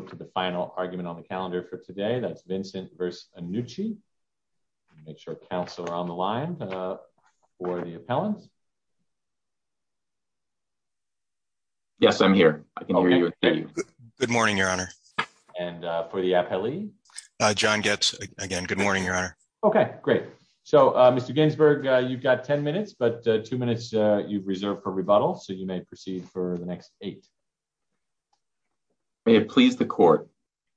to the final argument on the calendar for today. That's Vincent v. Annucci. Make sure council are on the line for the appellant. Yes, I'm here. I can hear you. Good morning, your honor. And for the appellee, John gets again. Good morning, your honor. Okay, great. So Mr. Ginsburg, you've got 10 minutes, but two minutes you've reserved for rebuttal. So you may proceed for the next eight. May it please the court.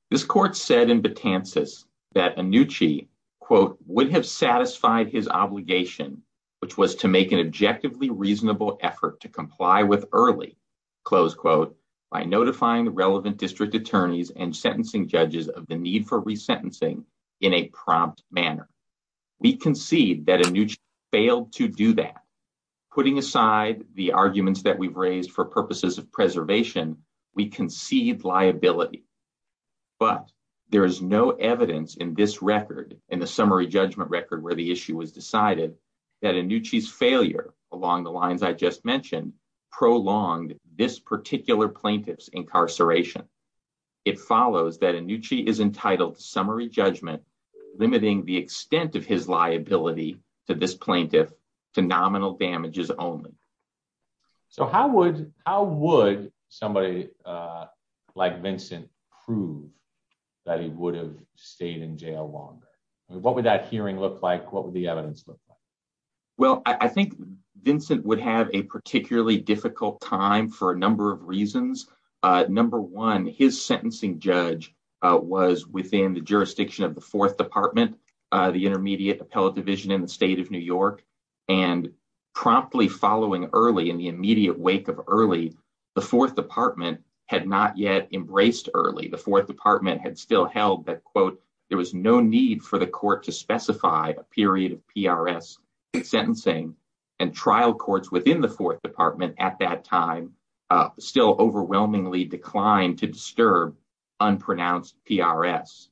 This court said in Betances that Annucci would have satisfied his obligation, which was to make an objectively reasonable effort to comply with early, close quote, by notifying the relevant district attorneys and sentencing judges of the need for resentencing in a prompt manner. We concede that Annucci failed to do that, putting aside the arguments that we've raised for purposes of preservation, we concede liability. But there is no evidence in this record and the summary judgment record where the issue was decided that Annucci's failure along the lines I just mentioned, prolonged this particular plaintiff's incarceration. It follows that Annucci is entitled to summary judgment, limiting the extent of his damages only. So how would somebody like Vincent prove that he would have stayed in jail longer? What would that hearing look like? What would the evidence look like? Well, I think Vincent would have a particularly difficult time for a number of reasons. Number one, his sentencing judge was within the jurisdiction of the fourth department, the intermediate appellate division in the state of New York, and promptly following early in the immediate wake of early, the fourth department had not yet embraced early. The fourth department had still held that quote, there was no need for the court to specify a period of PRS sentencing and trial courts within the fourth department at that time still overwhelmingly declined to disturb unpronounced PRS.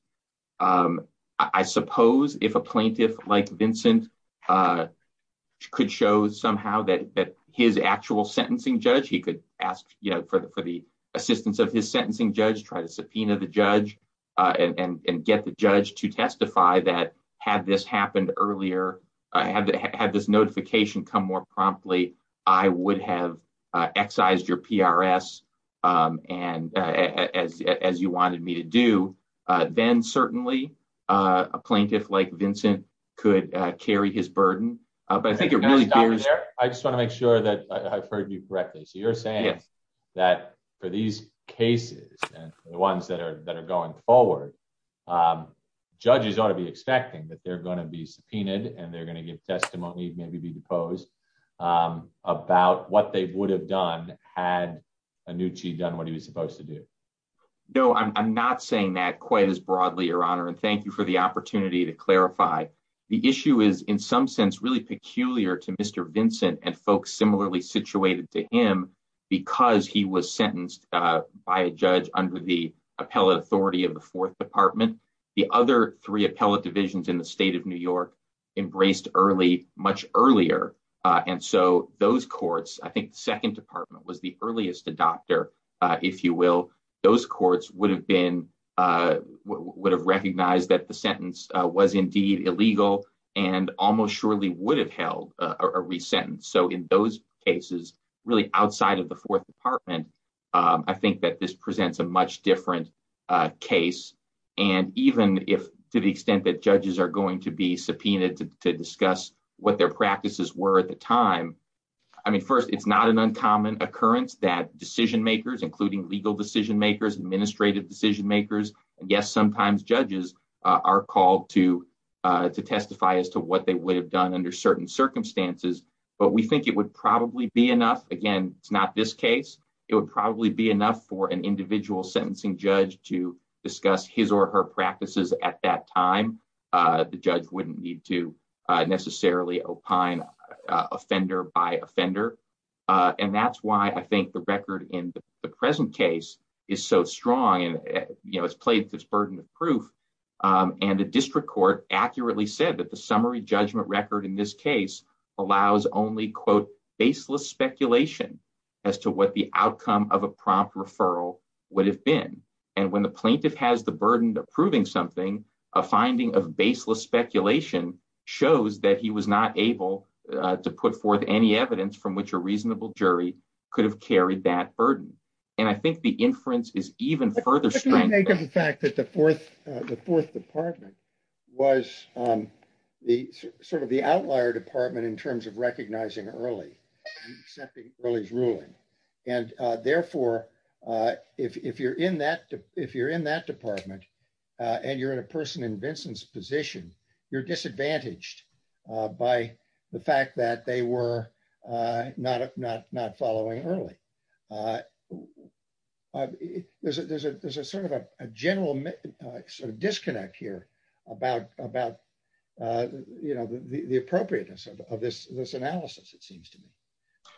I suppose if a plaintiff like Vincent could show somehow that his actual sentencing judge, he could ask for the assistance of his sentencing judge, try to subpoena the judge and get the judge to testify that had this happened earlier, had this notification come more promptly, I would have excised your PRS. And as you wanted me to do, then certainly, a plaintiff like Vincent could carry his burden. But I think it really bears. I just want to make sure that I've heard you correctly. So you're saying that for these cases, and the ones that are that are going forward, judges ought to be expecting that they're going to be subpoenaed, and they're going to give testimony, maybe be deposed, about what they would have done had Annucci done what he was supposed to do? No, I'm not saying that quite as broadly, Your Honor. And thank you for the opportunity to clarify. The issue is, in some sense, really peculiar to Mr. Vincent and folks similarly situated to him, because he was sentenced by a judge under the appellate authority of the fourth department. The other three appellate divisions in the state of New York embraced early, much earlier. And so those courts, I think the second department was the earliest adopter, if you will, those courts would have been, would have recognized that the sentence was indeed illegal, and almost surely would have held a re-sentence. So in those cases, really outside of the fourth department, I think that this presents a much different case. And even if, to the extent that judges are going to be subpoenaed to discuss what their practices were at the time, I mean, first, it's not an uncommon occurrence that decision makers, including legal decision makers, administrative decision makers, and yes, sometimes judges are called to testify as to what they would have done under certain circumstances, but we think it would probably be enough. Again, it's not this case, it would probably be enough for an individual sentencing judge to discuss his or her practices at that time. The judge wouldn't need to necessarily opine offender by offender. And that's why I think the record in the present case is so strong and, you know, it's played this burden of proof. And the district court accurately said that the summary judgment record in this case allows only, quote, baseless speculation as to what the outcome of a prompt referral would have been. And when the plaintiff has the burden of proving something, a finding of baseless speculation shows that he was not able to put forth any evidence from which a reasonable jury could have carried that burden. And I think the inference is even further strong. What do we make of the fact that the fourth department was sort of the outlier department in terms of recognizing early and accepting early's ruling? And therefore, if you're in that department and you're in a person in Vincent's position, you're disadvantaged by the fact that they were not following early. There's a sort of a general sort of disconnect here about, you know, the appropriateness of this analysis, it seems to me.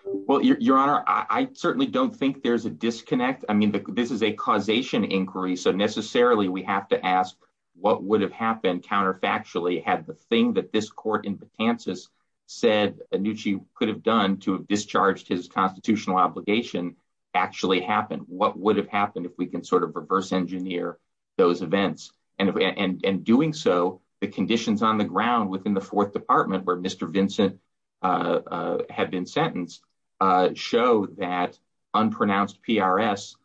Well, Your Honor, I certainly don't think there's a disconnect. I mean, this is a causation inquiry. So necessarily we have to ask what would have happened counterfactually had the thing that this court in Patansis said Annucci could have done to have discharged his constitutional obligation actually happened? What would have happened if we can sort of reverse engineer those events? And in doing so, the conditions on the ground within the fourth department where Mr. Vincent had been sentenced show that unpronounced PRS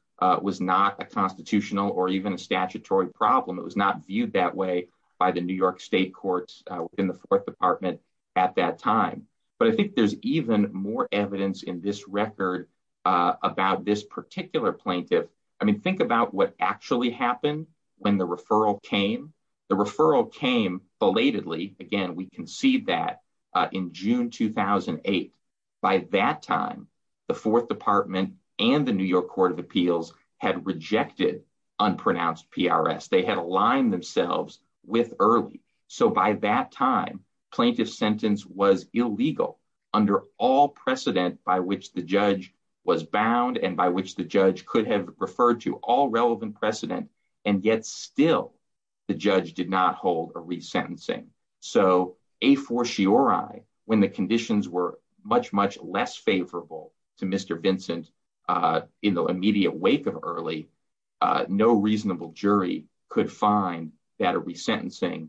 was not a constitutional or even a statutory problem. It was not viewed that way the New York State courts in the fourth department at that time. But I think there's even more evidence in this record about this particular plaintiff. I mean, think about what actually happened when the referral came. The referral came belatedly. Again, we can see that in June 2008. By that time, the fourth department and the New York Court of Appeals had rejected unpronounced PRS. They had aligned themselves with Early. So by that time, plaintiff's sentence was illegal under all precedent by which the judge was bound and by which the judge could have referred to all relevant precedent. And yet still, the judge did not hold a resentencing. So a fortiori, when the conditions were much, much less favorable to Mr. Vincent in the immediate wake of Early, no reasonable jury could find that a resentencing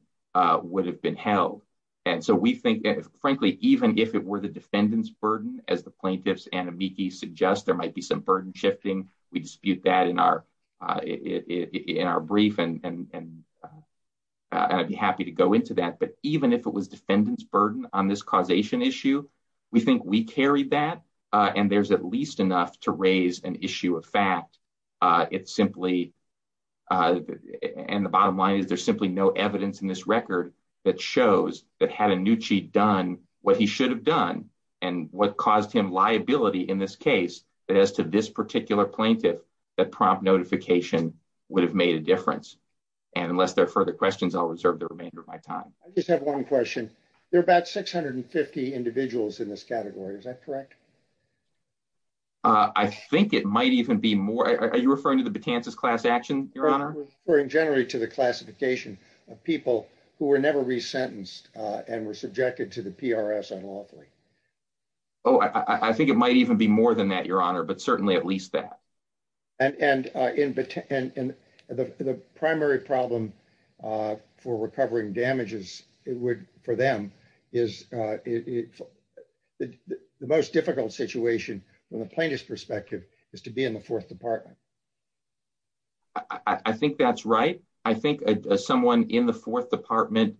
would have been held. And so we think that, frankly, even if it were the defendant's burden, as the plaintiffs and amici suggest, there might be some burden shifting. We dispute that in our brief and I'd be happy to go into that. But even if it was defendant's burden on this causation issue, we think we carry that. And there's at least enough to raise an issue of fact. It's simply, and the bottom line is, there's simply no evidence in this record that shows that had Annucci done what he should have done and what caused him liability in this case, that as to this particular plaintiff, that prompt notification would have made a difference. And unless there are further questions, I'll reserve the remainder of my time. I just have one question. There are about 650 individuals in this category. Is that correct? I think it might even be more. Are you referring to the Betances class action, Your Honor? We're referring generally to the classification of people who were never resentenced and were subjected to the PRS unlawfully. Oh, I think it might even be more than that, Your Honor, but certainly at least that. And the primary problem for recovering damages, it would, for them, is the most difficult situation from the plaintiff's perspective is to be in the fourth department. I think that's right. I think someone in the fourth department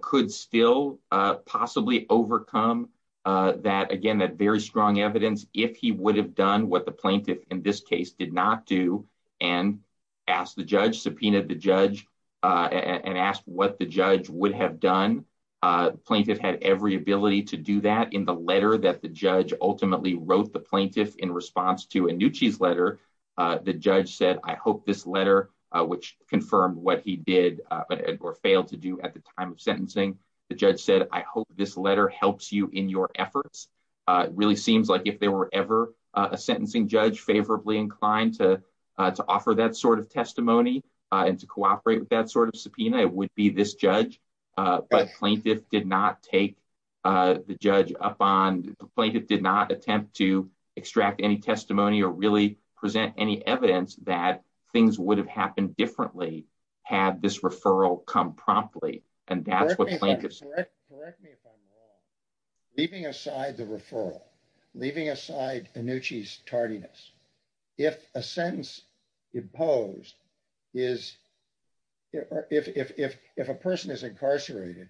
could still possibly overcome that, again, that very strong evidence, if he would have done what the plaintiff in this case did not do and asked the judge, subpoenaed the judge, and asked what the judge would have done. The plaintiff had every ability to do that in the letter that the judge ultimately wrote the plaintiff in response to Annucci's letter. The judge said, I hope this letter, which confirmed what he did or failed to do at the time of sentencing, the judge said, I hope this letter helps you in your efforts. It really seems like if there were ever a sentencing judge favorably inclined to offer that sort of testimony and to cooperate with that sort of subpoena, it would be this judge. But the plaintiff did not attempt to extract any testimony or really present any evidence that things would have happened differently had this referral come promptly. Correct me if I'm wrong. Leaving aside the referral, leaving aside Annucci's tardiness, if a sentence imposed is, if a person is incarcerated,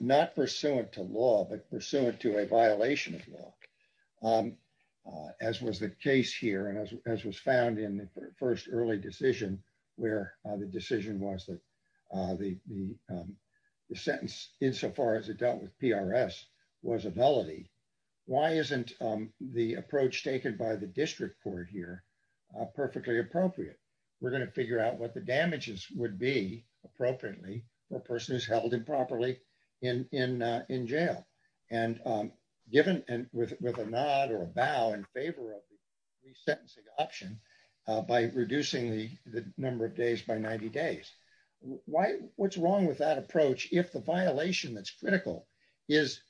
not pursuant to law but pursuant to a violation of law, as was the case here and as was found in the first early decision where the decision was that the sentence insofar as it dealt with PRS was a velity, why isn't the approach taken by the district court here perfectly appropriate? We're going to figure out what the damages would be appropriately for a person who's held improperly in jail. And given with a nod or a bow in favor of the sentencing option by reducing the number of days by 90 days, what's wrong with that approach if the violation that's critical is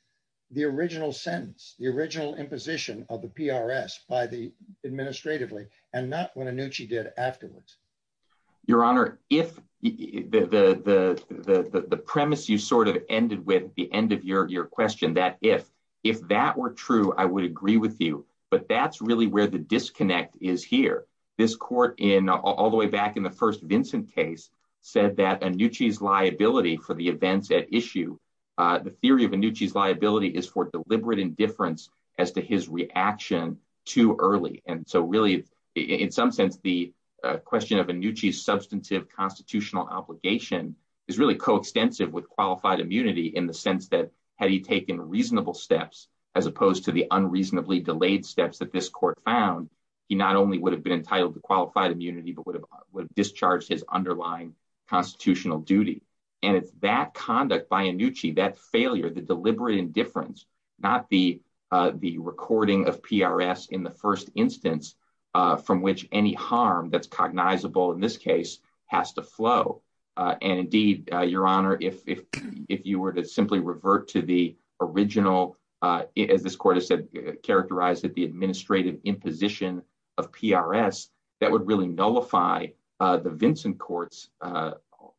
the original sentence, the original imposition of the PRS by the administratively and not what Annucci did afterwards? Your Honor, if the premise you sort of ended with at the end of your question, that if, if that were true, I would agree with you. But that's really where the disconnect is here. This court in all the way back in the first Vincent case said that Annucci's liability for the events at issue, the theory of Annucci's liability is for deliberate indifference as to his reaction too early. And so really, in some sense, the question of Annucci's substantive constitutional obligation is really coextensive with qualified immunity in the sense that had he taken reasonable steps, as opposed to the unreasonably delayed steps that this court found, he not only would have been entitled to qualified immunity, but would have discharged his underlying constitutional duty. And it's that conduct by Annucci, that failure, the deliberate indifference, not the recording of PRS in the first instance, from which any harm that's to the original, as this court has said, characterized that the administrative imposition of PRS, that would really nullify the Vincent court's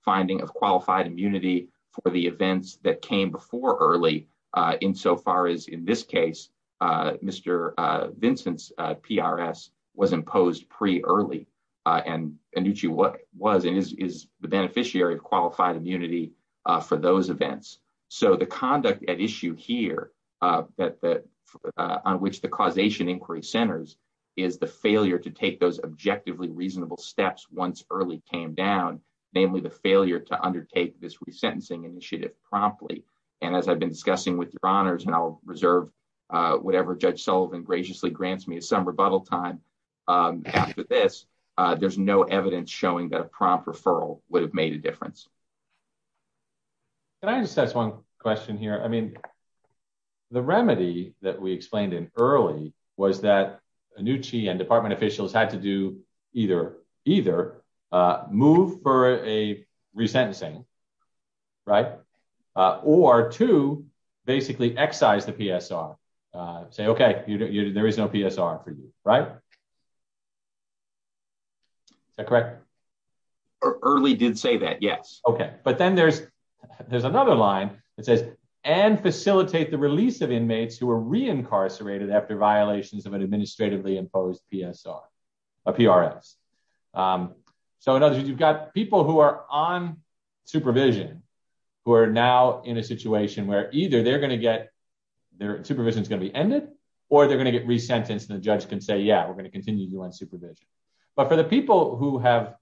finding of qualified immunity for the events that came before early, insofar as in this case, Mr. Vincent's PRS was imposed pre-early. And Annucci was and is the beneficiary of qualified immunity for those events. So the conduct at issue here, on which the causation inquiry centers, is the failure to take those objectively reasonable steps once early came down, namely the failure to undertake this resentencing initiative promptly. And as I've been discussing with your honors, and I'll reserve whatever Judge there's no evidence showing that a prompt referral would have made a difference. Can I just ask one question here? I mean, the remedy that we explained in early was that Annucci and department officials had to do either, either move for a resentencing, right? Or to basically excise the PSR, say, okay, there is no PSR for you, right? Is that correct? Early did say that. Yes. Okay. But then there's, there's another line that says, and facilitate the release of inmates who are re-incarcerated after violations of an administratively imposed PSR, a PRS. So in other words, you've got people who are on supervision, who are now in a situation where either they're going to get, their supervision is going to be ended, or they're going to get resentenced. And the judge can say, yeah, we're going to continue supervision, but for the people who have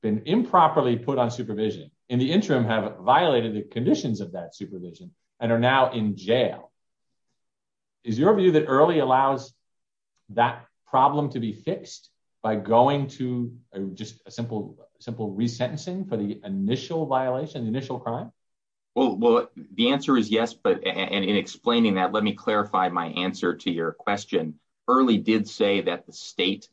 been improperly put on supervision in the interim, have violated the conditions of that supervision and are now in jail. Is your view that early allows that problem to be fixed by going to just a simple, simple resentencing for the initial violation, the initial crime? Well, the answer is yes, but in explaining that, let me clarify my answer to your question. Early did say that the state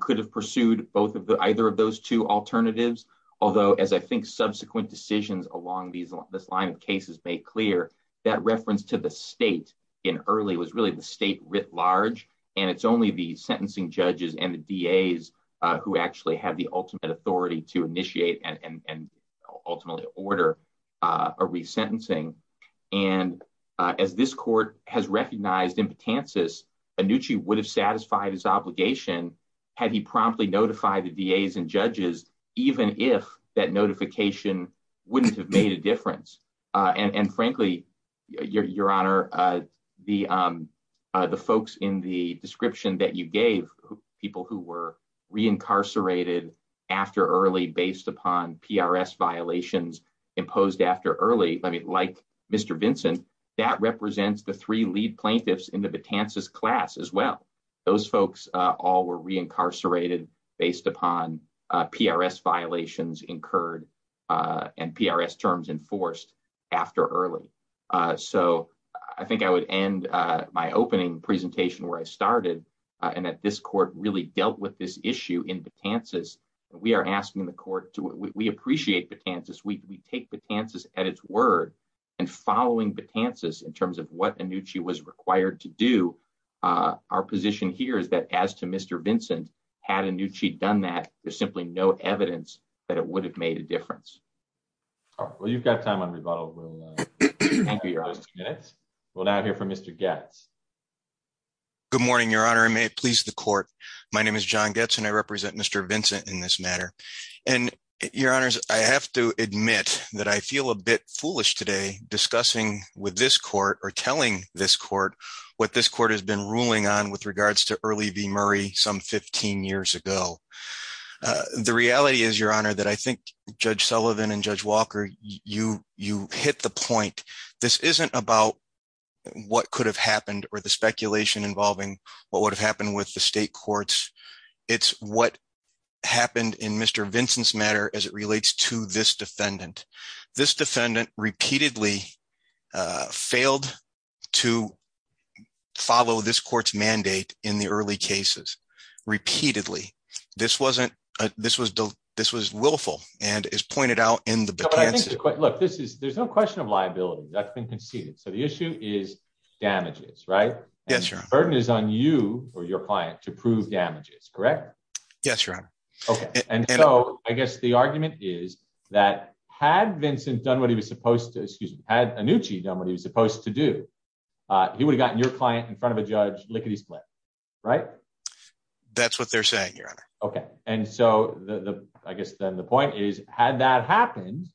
could have pursued both of the, either of those two alternatives. Although as I think subsequent decisions along these, this line of cases made clear that reference to the state in early was really the state writ large, and it's only the sentencing judges and the DAs who actually have the ultimate authority to initiate and ultimately order a resentencing. And as this court has recognized impotences, Annucci would have satisfied his obligation had he promptly notified the DAs and judges, even if that notification wouldn't have made a difference. And frankly, your honor, the folks in the description that you gave, people who were reincarcerated after early based upon PRS violations imposed after early, like Mr. Vincent, that represents the three lead plaintiffs in the Betances class as well. Those folks all were reincarcerated based upon PRS violations incurred and PRS terms enforced after early. So I think I would end my opening presentation where I started, and that this court really dealt with this issue in Betances. We are asking the court to, we appreciate Betances, we take Betances at its word, and following Betances in terms of what Annucci was required to do, our position here is that as to Mr. Vincent, had Annucci done that, there's simply no evidence that it would have made a difference. All right, well, you've got time on rebuttal. We'll now hear from Mr. Goetz. Good morning, your honor, and may it please the court. My name is John Goetz and I represent Mr. Vincent in this matter. And your honors, I have to admit that I feel a bit foolish today discussing with this court or telling this court what this court has been ruling on with regards to early Murray some 15 years ago. The reality is, your honor, that I think Judge Sullivan and Judge Walker, you hit the point. This isn't about what could have happened or the speculation involving what would have happened with the state courts. It's what happened in Mr. Vincent's matter as it relates to this defendant. This defendant repeatedly failed to follow this court's repeatedly. This wasn't this was this was willful and is pointed out in the book. Look, this is there's no question of liability that's been conceded. So the issue is damages, right? Yes, your burden is on you or your client to prove damages, correct? Yes, your honor. And so I guess the argument is that had Vincent done what he was supposed to, excuse me, had Annucci done what he was supposed to do, he would have gotten your client in front of a judge lickety-split, right? That's what they're saying, your honor. Okay. And so the, I guess then the point is, had that happened,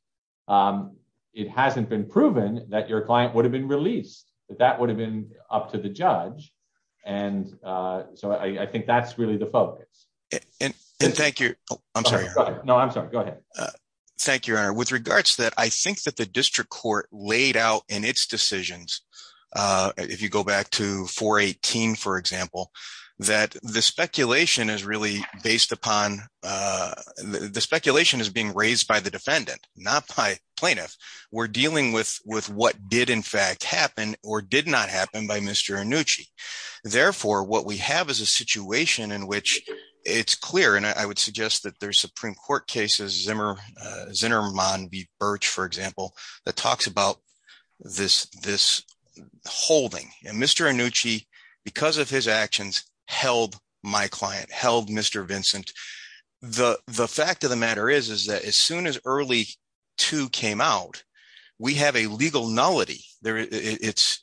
it hasn't been proven that your client would have been released, that that would have been up to the judge. And so I think that's really the focus. And thank you. I'm sorry. No, I'm sorry. Go ahead. Thank you, your honor. With regards that I think that the district court laid out in its decisions, if you go back to 418, for example, that the speculation is really based upon the speculation is being raised by the defendant, not by plaintiff. We're dealing with what did in fact happen or did not happen by Mr. Annucci. Therefore, what we have is a situation in which it's clear. And I would suggest that there's Supreme Court cases, Zimmerman v. Birch, for example, that talks about this holding. And Mr. Annucci, because of his actions, held my client, held Mr. Vincent. The fact of the matter is, is that as soon as early two came out, we have a legal nullity. It's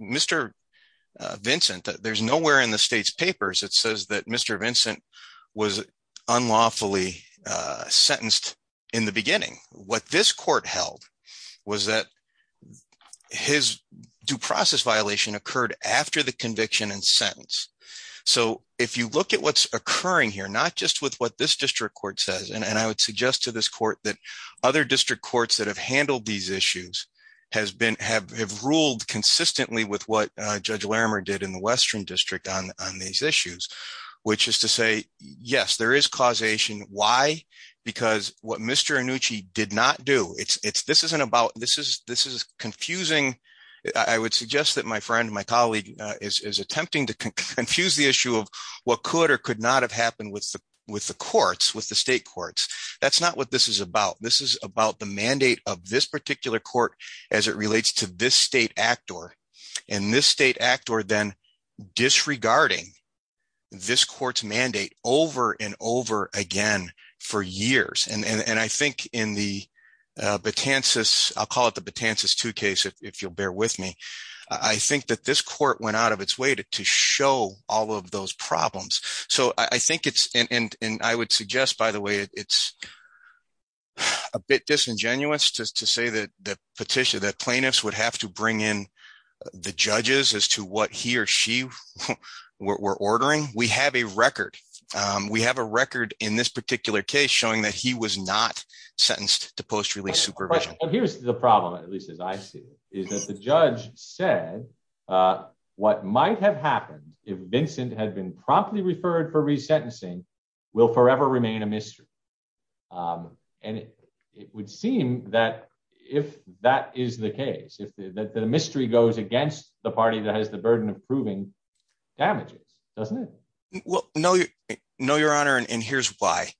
Mr. Vincent, there's nowhere in the state's papers, it says that Mr. Vincent was unlawfully sentenced in the beginning. What this court held was that his due process violation occurred after the conviction and sentence. So if you look at what's occurring here, not just with what this district court says, and I would suggest to this court that other district courts that have handled these on these issues, which is to say, yes, there is causation. Why? Because what Mr. Annucci did not do, this is confusing. I would suggest that my friend, my colleague is attempting to confuse the issue of what could or could not have happened with the courts, with the state courts. That's not what this is about. This is about the mandate of this particular court as it relates to this state and this state act or then disregarding this court's mandate over and over again for years. And I think in the, I'll call it the Betances 2 case, if you'll bear with me, I think that this court went out of its way to show all of those problems. So I think it's, and I would suggest by the way, it's a bit disingenuous to say that the petition, that plaintiffs would have to bring in the judges as to what he or she were ordering. We have a record, we have a record in this particular case showing that he was not sentenced to post release supervision. Here's the problem, at least as I see it, is that the judge said what might have happened if Vincent had been promptly referred for that? The mystery goes against the party that has the burden of proving damages, doesn't it? Well, no, your honor, and here's why.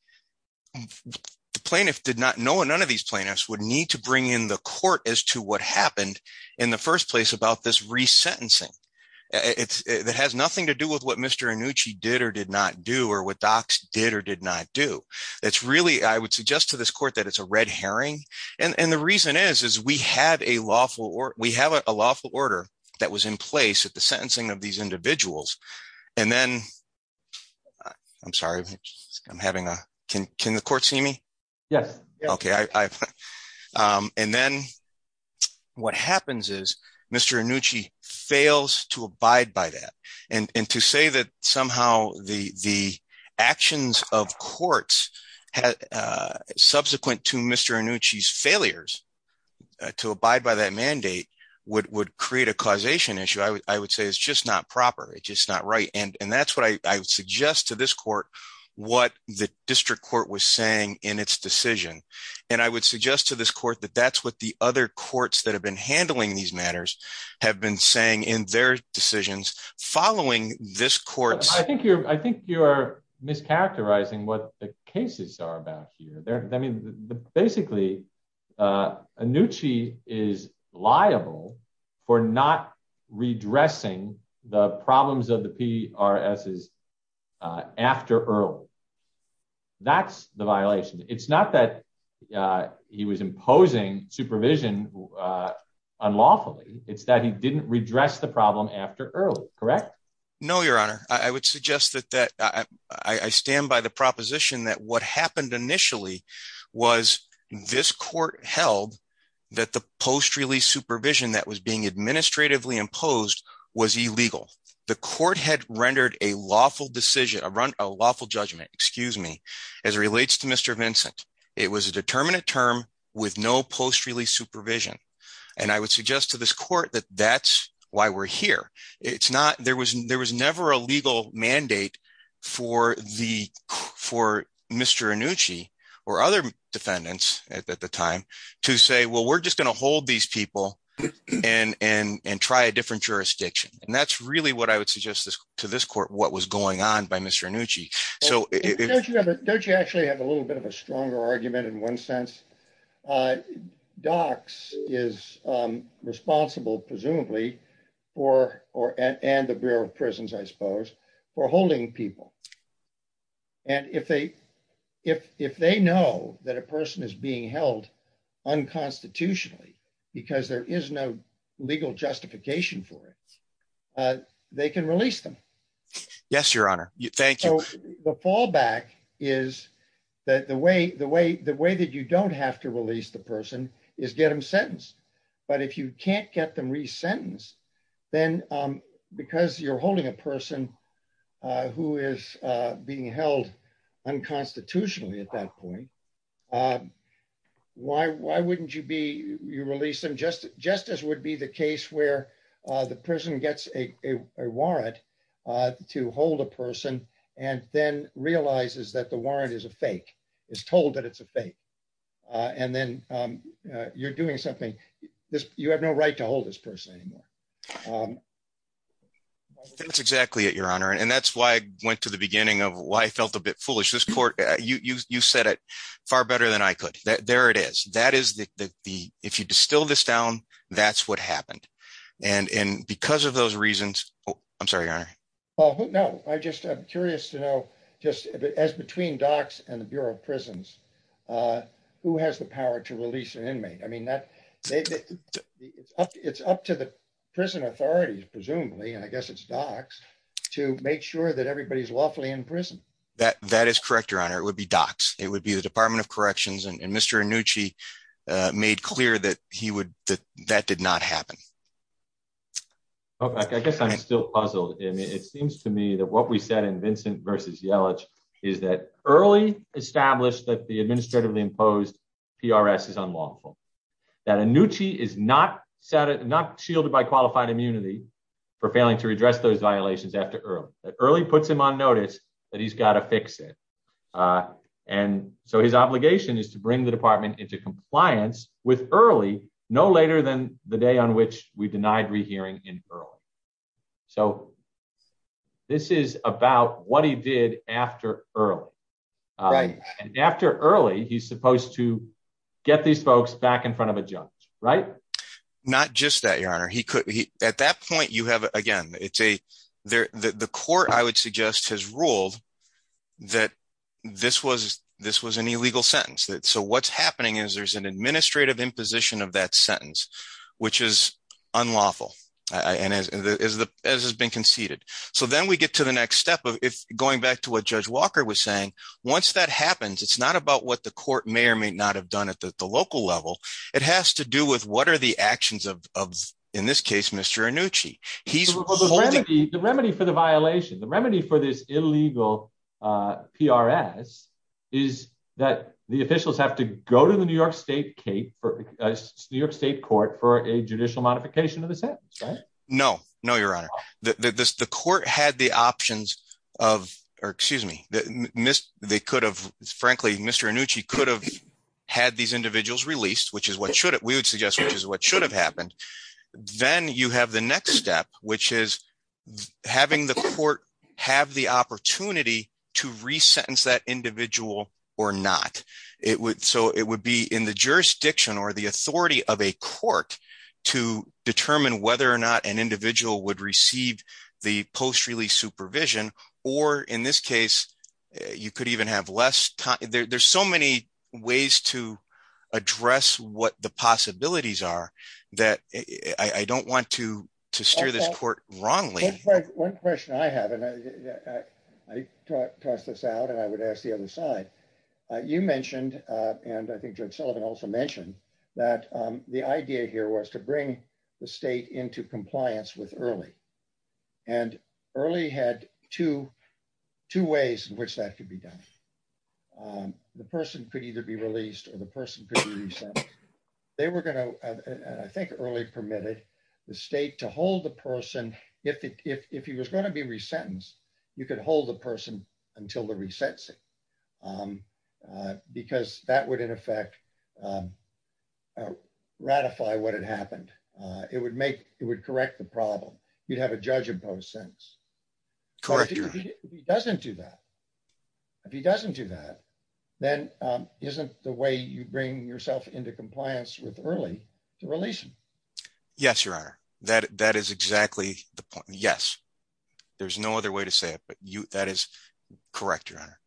The plaintiff did not know, none of these plaintiffs would need to bring in the court as to what happened in the first place about this resentencing. That has nothing to do with what Mr. Annucci did or did not do or what docs did or did not do. That's really, I would suggest to this court that it's a red herring. And the reason is, we have a lawful order that was in place at the sentencing of these individuals. And then, I'm sorry, I'm having a, can the court see me? Yes. Okay. And then what happens is Mr. Annucci fails to abide by that. And to say that somehow the actions of courts subsequent to Mr. Annucci's to abide by that mandate would create a causation issue. I would say it's just not proper. It's just not right. And that's what I would suggest to this court, what the district court was saying in its decision. And I would suggest to this court that that's what the other courts that have been handling these matters have been saying in their decisions following this court. I think you're mischaracterizing what the cases are about here. I mean, basically, Annucci is liable for not redressing the problems of the PRSs after early. That's the violation. It's not that he was imposing supervision unlawfully. It's that he didn't redress the problem after early, correct? No, your honor. I would suggest that I stand by the proposition that what happened initially was this court held that the post-release supervision that was being administratively imposed was illegal. The court had rendered a lawful decision around a lawful judgment, excuse me, as it relates to Mr. Vincent. It was a determinant term with no post-release supervision. And I would suggest to this court that that's why we're here. There was never a legal mandate for Mr. Annucci or other defendants at the time to say, well, we're just going to hold these people and try a different jurisdiction. And that's really what I would suggest to this court what was going on by Mr. Annucci. Don't you actually have a little bit of a stronger argument in one sense? DOCS is responsible, presumably, and the Bureau of Prisons, I suppose, for holding people. And if they know that a person is being held unconstitutionally because there is no legal justification for it, they can release them. Yes, your honor. Thank you. The fallback is that the way that you don't have to release the person is get them sentenced. But if you can't get them resentenced, then because you're holding a person who is being held unconstitutionally at that point, why wouldn't you release them just as would be the case where the person gets a warrant to hold a person and then realizes that the warrant is a fake, is told that it's a fake. And then you're doing something. You have no right to hold this person anymore. That's exactly it, your honor. And that's why I went to the beginning of why I felt a bit foolish. This court, you said it far better than I could. There it is. That is the if you distill this down, that's what happened. And because of those reasons, I'm sorry, your honor. Well, no, I just I'm curious to know, just as between docs and the Bureau of Prisons, who has the power to release an inmate? I mean, that it's up to the prison authorities, presumably, and I guess it's docs to make sure that everybody is lawfully in prison. That that is correct, your honor. It would be docs. It would be the Department of Corrections and Mr. Anucci made clear that he would that that did not happen. Okay, I guess I'm still puzzled. It seems to me that what we said in Vincent versus Yellich is that early established that the administratively imposed PRS is unlawful, that Anucci is not set it not shielded by qualified immunity for failing to redress those violations after early early on notice that he's got to fix it. And so his obligation is to bring the department into compliance with early no later than the day on which we denied rehearing in early. So this is about what he did after early, right? After early, he's supposed to get these folks back in front of a judge, right? Not just that, your honor, he could be at that point you have, again, it's a there, the court, I would suggest has ruled that this was this was an illegal sentence that so what's happening is there's an administrative imposition of that sentence, which is unlawful. And as the as has been conceded, so then we get to the next step of if going back to what Judge Walker was saying, once that happens, it's not about what the court may or may not have done at the local level. It has to do with what are the actions of in this case, Mr. Nucci, he's the remedy for the violation, the remedy for this illegal PRS is that the officials have to go to the New York State Cape for New York State Court for a judicial modification of the sentence. No, no, your honor, that this the court had the options of or excuse me, that missed, they could have, frankly, Mr. Nucci could have had these individuals released, which is what should we would suggest, which is what should have happened. Then you have the next step, which is having the court have the opportunity to resentence that individual or not, it would so it would be in the jurisdiction or the authority of a court to determine whether or not an individual would receive the post release supervision. Or in this case, you could have less time, there's so many ways to address what the possibilities are that I don't want to to steer this court wrongly. One question I have and I tossed this out and I would ask the other side. You mentioned and I think Judge Sullivan also mentioned that the idea here was to bring the state into compliance with early and early had two, two ways in which that could be done. The person could either be released or the person could be reset. They were going to, I think early permitted the state to hold the person. If he was going to be resentenced, you could hold the person until the resets it because that would in effect ratify what had happened. It would make it would correct the problem. You'd have a judge imposed sentence. Correct. He doesn't do that. If he doesn't do that, then isn't the way you bring yourself into compliance with early to release? Yes, Your Honor. That that is exactly the point. Yes. There's no other way to say it. But you that is correct, Your Honor.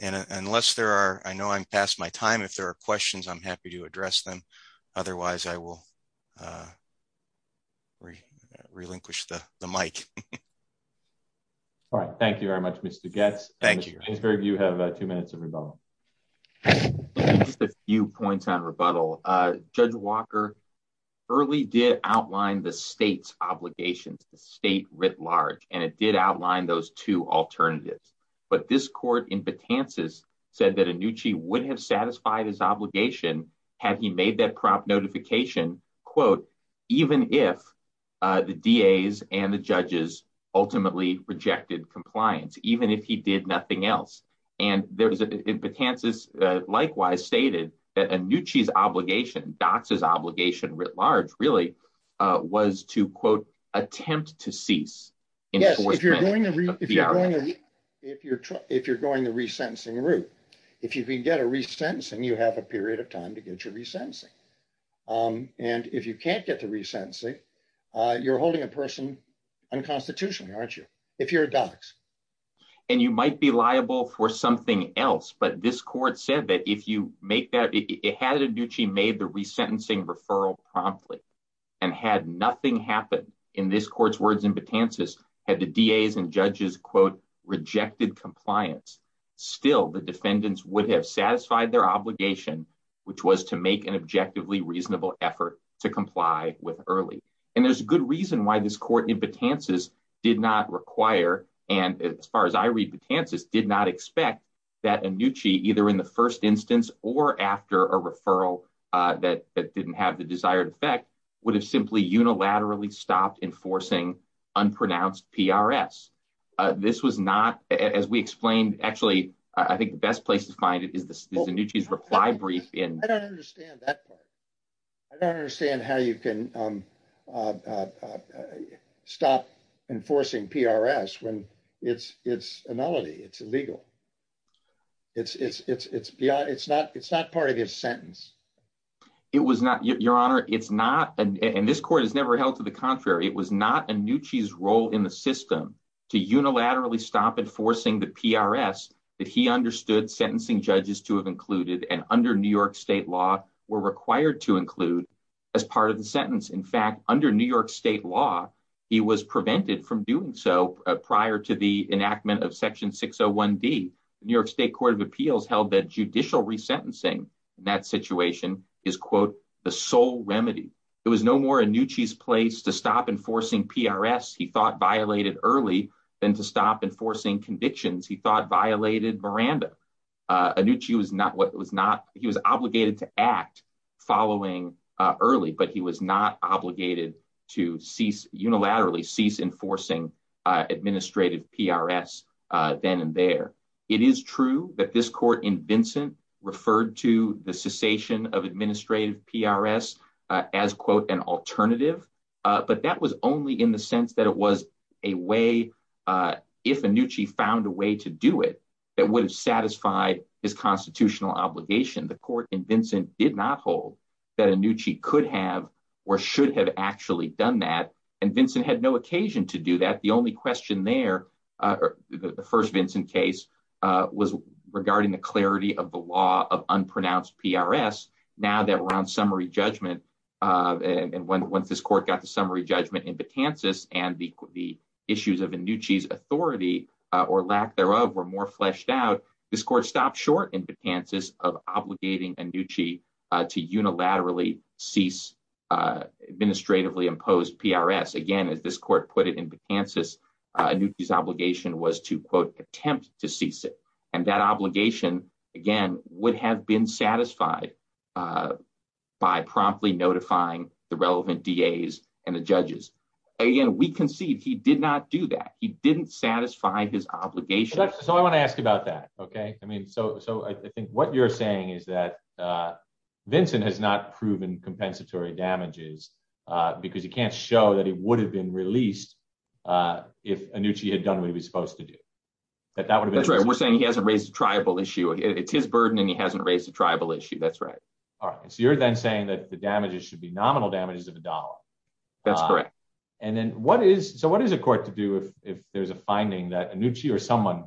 And unless there are I am past my time. If there are questions, I'm happy to address them. Otherwise, I will relinquish the mic. All right. Thank you very much, Mr. Getz. Thank you. You have two minutes of rebuttal. A few points on rebuttal. Judge Walker early did outline the state's obligations, the state writ large, and it did outline those two alternatives. But this court in Patances said that a new chief would have satisfied his obligation had he made that prop notification, quote, even if the DA's and the judges ultimately rejected compliance, even if he did nothing else. And there was a chance this likewise stated that a new chief's obligation, Dox's obligation writ large, really was to, quote, attempt to cease. Yes, if you're going to be if you're if you're going to resentencing route, if you can get a resentencing, you have a period of time to get your resentencing. And if you can't get the resentencing, you're holding a person unconstitutionally, aren't you? If you're a Dox. And you might be liable for something else. But this court said that if you make that it had a new chief made the resentencing referral promptly and had nothing happened in this court's words in Patances had the DA's and judges, quote, rejected compliance. Still, the defendants would have satisfied their obligation, which was to make an objectively reasonable effort to comply with early. And there's a good reason why this court in Patances did not require. And as far as I read, Patances did not expect that a new chief, either in the first instance or after a referral that didn't have the desired effect, would have simply unilaterally stopped enforcing unpronounced PRS. This was not as we explained. Actually, I think the best place to find it is the new chief's reply brief in. I don't understand that part. I don't understand how you can stop enforcing PRS when it's it's a melody. It's illegal. It's beyond it's not it's not part of his sentence. It was not your honor. It's not. And this court has never held to the contrary. It was not a new cheese role in the system to unilaterally stop enforcing the PRS that he understood sentencing judges to have included and under New York state law were required to include as part of the sentence. In fact, under New York state law, he was prevented from doing so prior to the enactment of Section 601 D. New York State Court of Appeals held that judicial resentencing in that situation is, quote, the sole remedy. It was no more a new chief's place to stop enforcing PRS he thought violated early than to stop enforcing convictions he thought violated Miranda. A new chief is not what was not he was obligated to act following early, but he was not obligated to cease unilaterally cease enforcing administrative PRS then and there. It is true that this court in Vincent referred to the cessation of administrative PRS as, quote, an alternative. But that was only in the sense that it was a way if a new chief found a way to do it that would have satisfied his constitutional obligation. The court in Vincent did not hold that a new chief could have or should have actually done that. And Vincent had no occasion to do that. The only question there, the first Vincent case was regarding the clarity of the law of unpronounced PRS. Now that we're on summary judgment and when once this court got the summary judgment in and the issues of a new chief's authority or lack thereof were more fleshed out, this court stopped short in the chances of obligating a new chief to unilaterally cease administratively imposed PRS. Again, as this court put it in Kansas, his obligation was to, quote, attempt to cease it. And that obligation, again, would have been satisfied by promptly notifying the relevant DAs and the judges. Again, we concede he did not do that. He didn't satisfy his obligation. So I want to ask about that, OK? I mean, so I think what you're saying is that Vincent has not proven compensatory damages because he can't show that it would have been released if a new chief had done what he was supposed to do. That's right. We're saying he hasn't raised a tribal issue. It's his burden and he hasn't raised a tribal issue. That's right. All right. So you're then saying that the damages should be nominal damages of a dollar. That's correct. And then what is so what is a court to do if there's a finding that a new chief or someone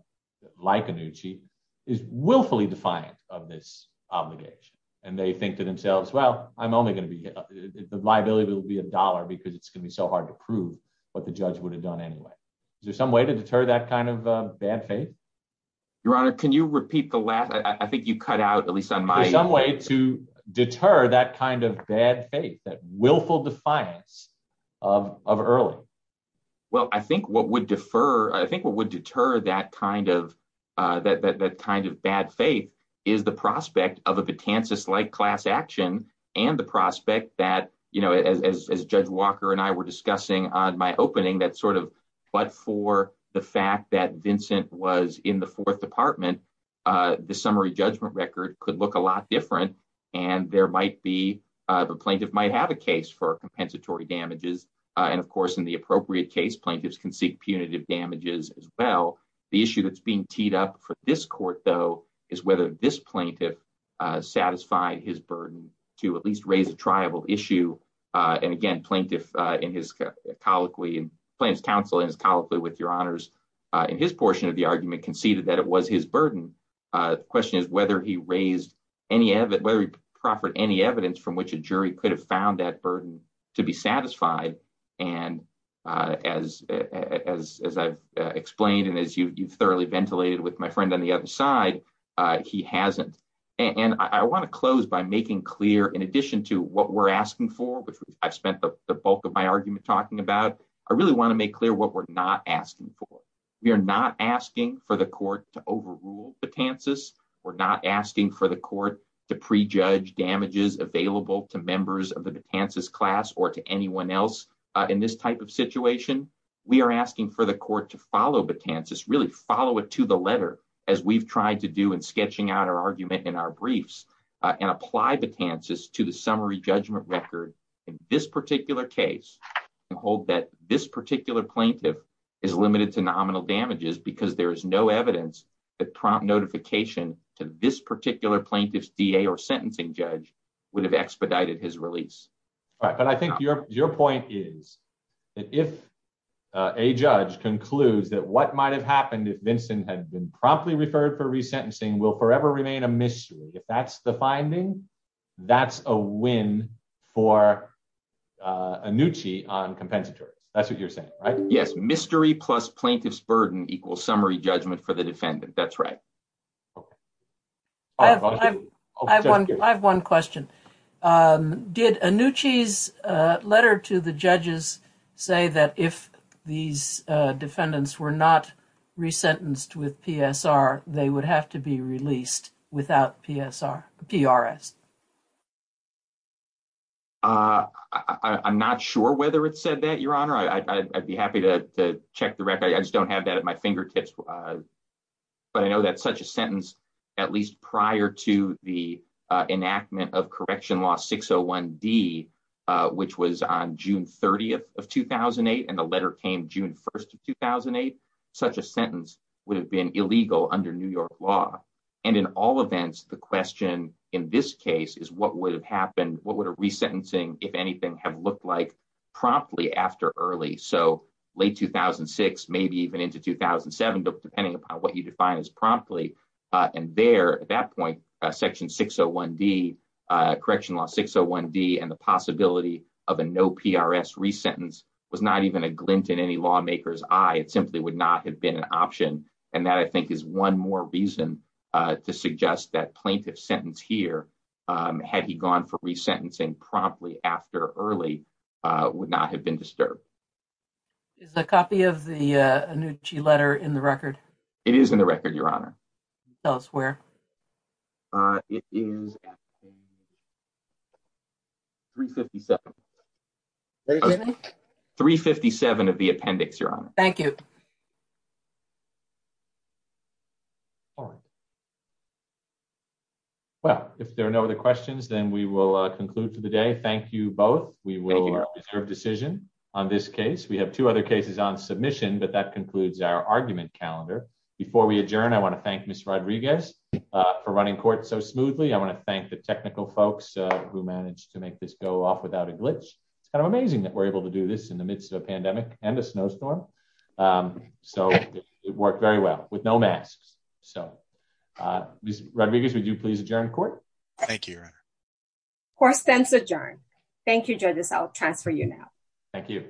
like a new chief is willfully defiant of this obligation and they think to themselves, well, I'm only going to be the liability will be a dollar because it's going to be so hard to prove what the judge would have done anyway. Is there some way to deter that kind of bad faith? Your Honor, can you repeat the last? I think you cut out at least some way to deter that kind of bad faith, that willful defiance of of early. Well, I think what would defer I think what would deter that kind of that kind of bad faith is the prospect of a potentious like class action and the prospect that, you know, as Judge Walker and I were discussing on my opening, that sort of. But for the fact that Vincent was in the fourth department, the summary judgment record could look a lot different. And there might be the plaintiff might have a case for compensatory damages. And of course, in the appropriate case, plaintiffs can seek punitive damages as well. The issue that's being teed up for this court, though, is whether this plaintiff satisfied his burden to at least raise a tribal issue. And again, plaintiff in his colloquy and plans counsel is colloquy with your honors in his portion of the argument conceded that it was his burden. The question is whether he raised any of it, whether he proffered any evidence from which a jury could have found that burden to be satisfied. And as as I've explained, and as you thoroughly ventilated with my friend on the other side, he hasn't. And I want to close by making clear in addition to what we're asking for, which I've spent the bulk of my argument talking about, I really want to make clear what we're not asking for. We are not asking for the court to overrule the chances. We're not asking for the court to prejudge damages available to members of the chances class or to anyone else. In this type of situation, we are asking for the court to follow the chances really follow it to the letter, as we've tried to do in sketching out our argument in our briefs and apply the chances to the summary judgment record in this particular case and hold that this particular plaintiff is limited to nominal damages because there is no evidence that prompt notification to this particular plaintiff's DA or sentencing judge would have expedited his release. All right, but I think your your point is that if a judge concludes that what might have happened if Vincent had been promptly referred for resentencing will forever remain a mystery. If that's the finding, that's a win for Anucci on compensatory. That's what you're saying, right? Yes, mystery plus plaintiff's burden equals summary judgment for the defendant. That's right. I have one question. Did Anucci's letter to the released without PSR PRS? I'm not sure whether it said that, your honor. I'd be happy to check the record. I just don't have that at my fingertips, but I know that such a sentence, at least prior to the enactment of Correction Law 601 D, which was on June 30th of 2008 and the letter came June 1st of 2008, such a sentence would have been illegal under New York law. And in all events, the question in this case is what would have happened? What would a resentencing, if anything, have looked like promptly after early? So late 2006, maybe even into 2007, depending upon what you define as promptly. And there at that point, Section 601 D, Correctional Law 601 D and the possibility of a no PRS resentence was not even a glint in any lawmaker's eye. It simply would not have been an option. And that I think is one more reason to suggest that plaintiff's sentence here, had he gone for resentencing promptly after early, would not have been disturbed. Is a copy of the Anucci letter in the record? It is in the record, your honor. Tell us where. Uh, it is. 3 57. 3 57 of the appendix, your honor. Thank you. All right. Well, if there are no other questions, then we will conclude for the day. Thank you both. We will reserve decision on this case. We have two other cases on submission, but that concludes our argument calendar. Before we adjourn, I want to thank Miss Rodriguez. For running court so smoothly. I want to thank the technical folks who managed to make this go off without a glitch. It's kind of amazing that we're able to do this in the midst of a pandemic and a snowstorm. Um, so it worked very well with no masks. So, uh, Rodriguez, would you please adjourn court? Thank you, your honor. Court stands adjourned. Thank you, judges. I'll transfer you now. Thank you. Thank you.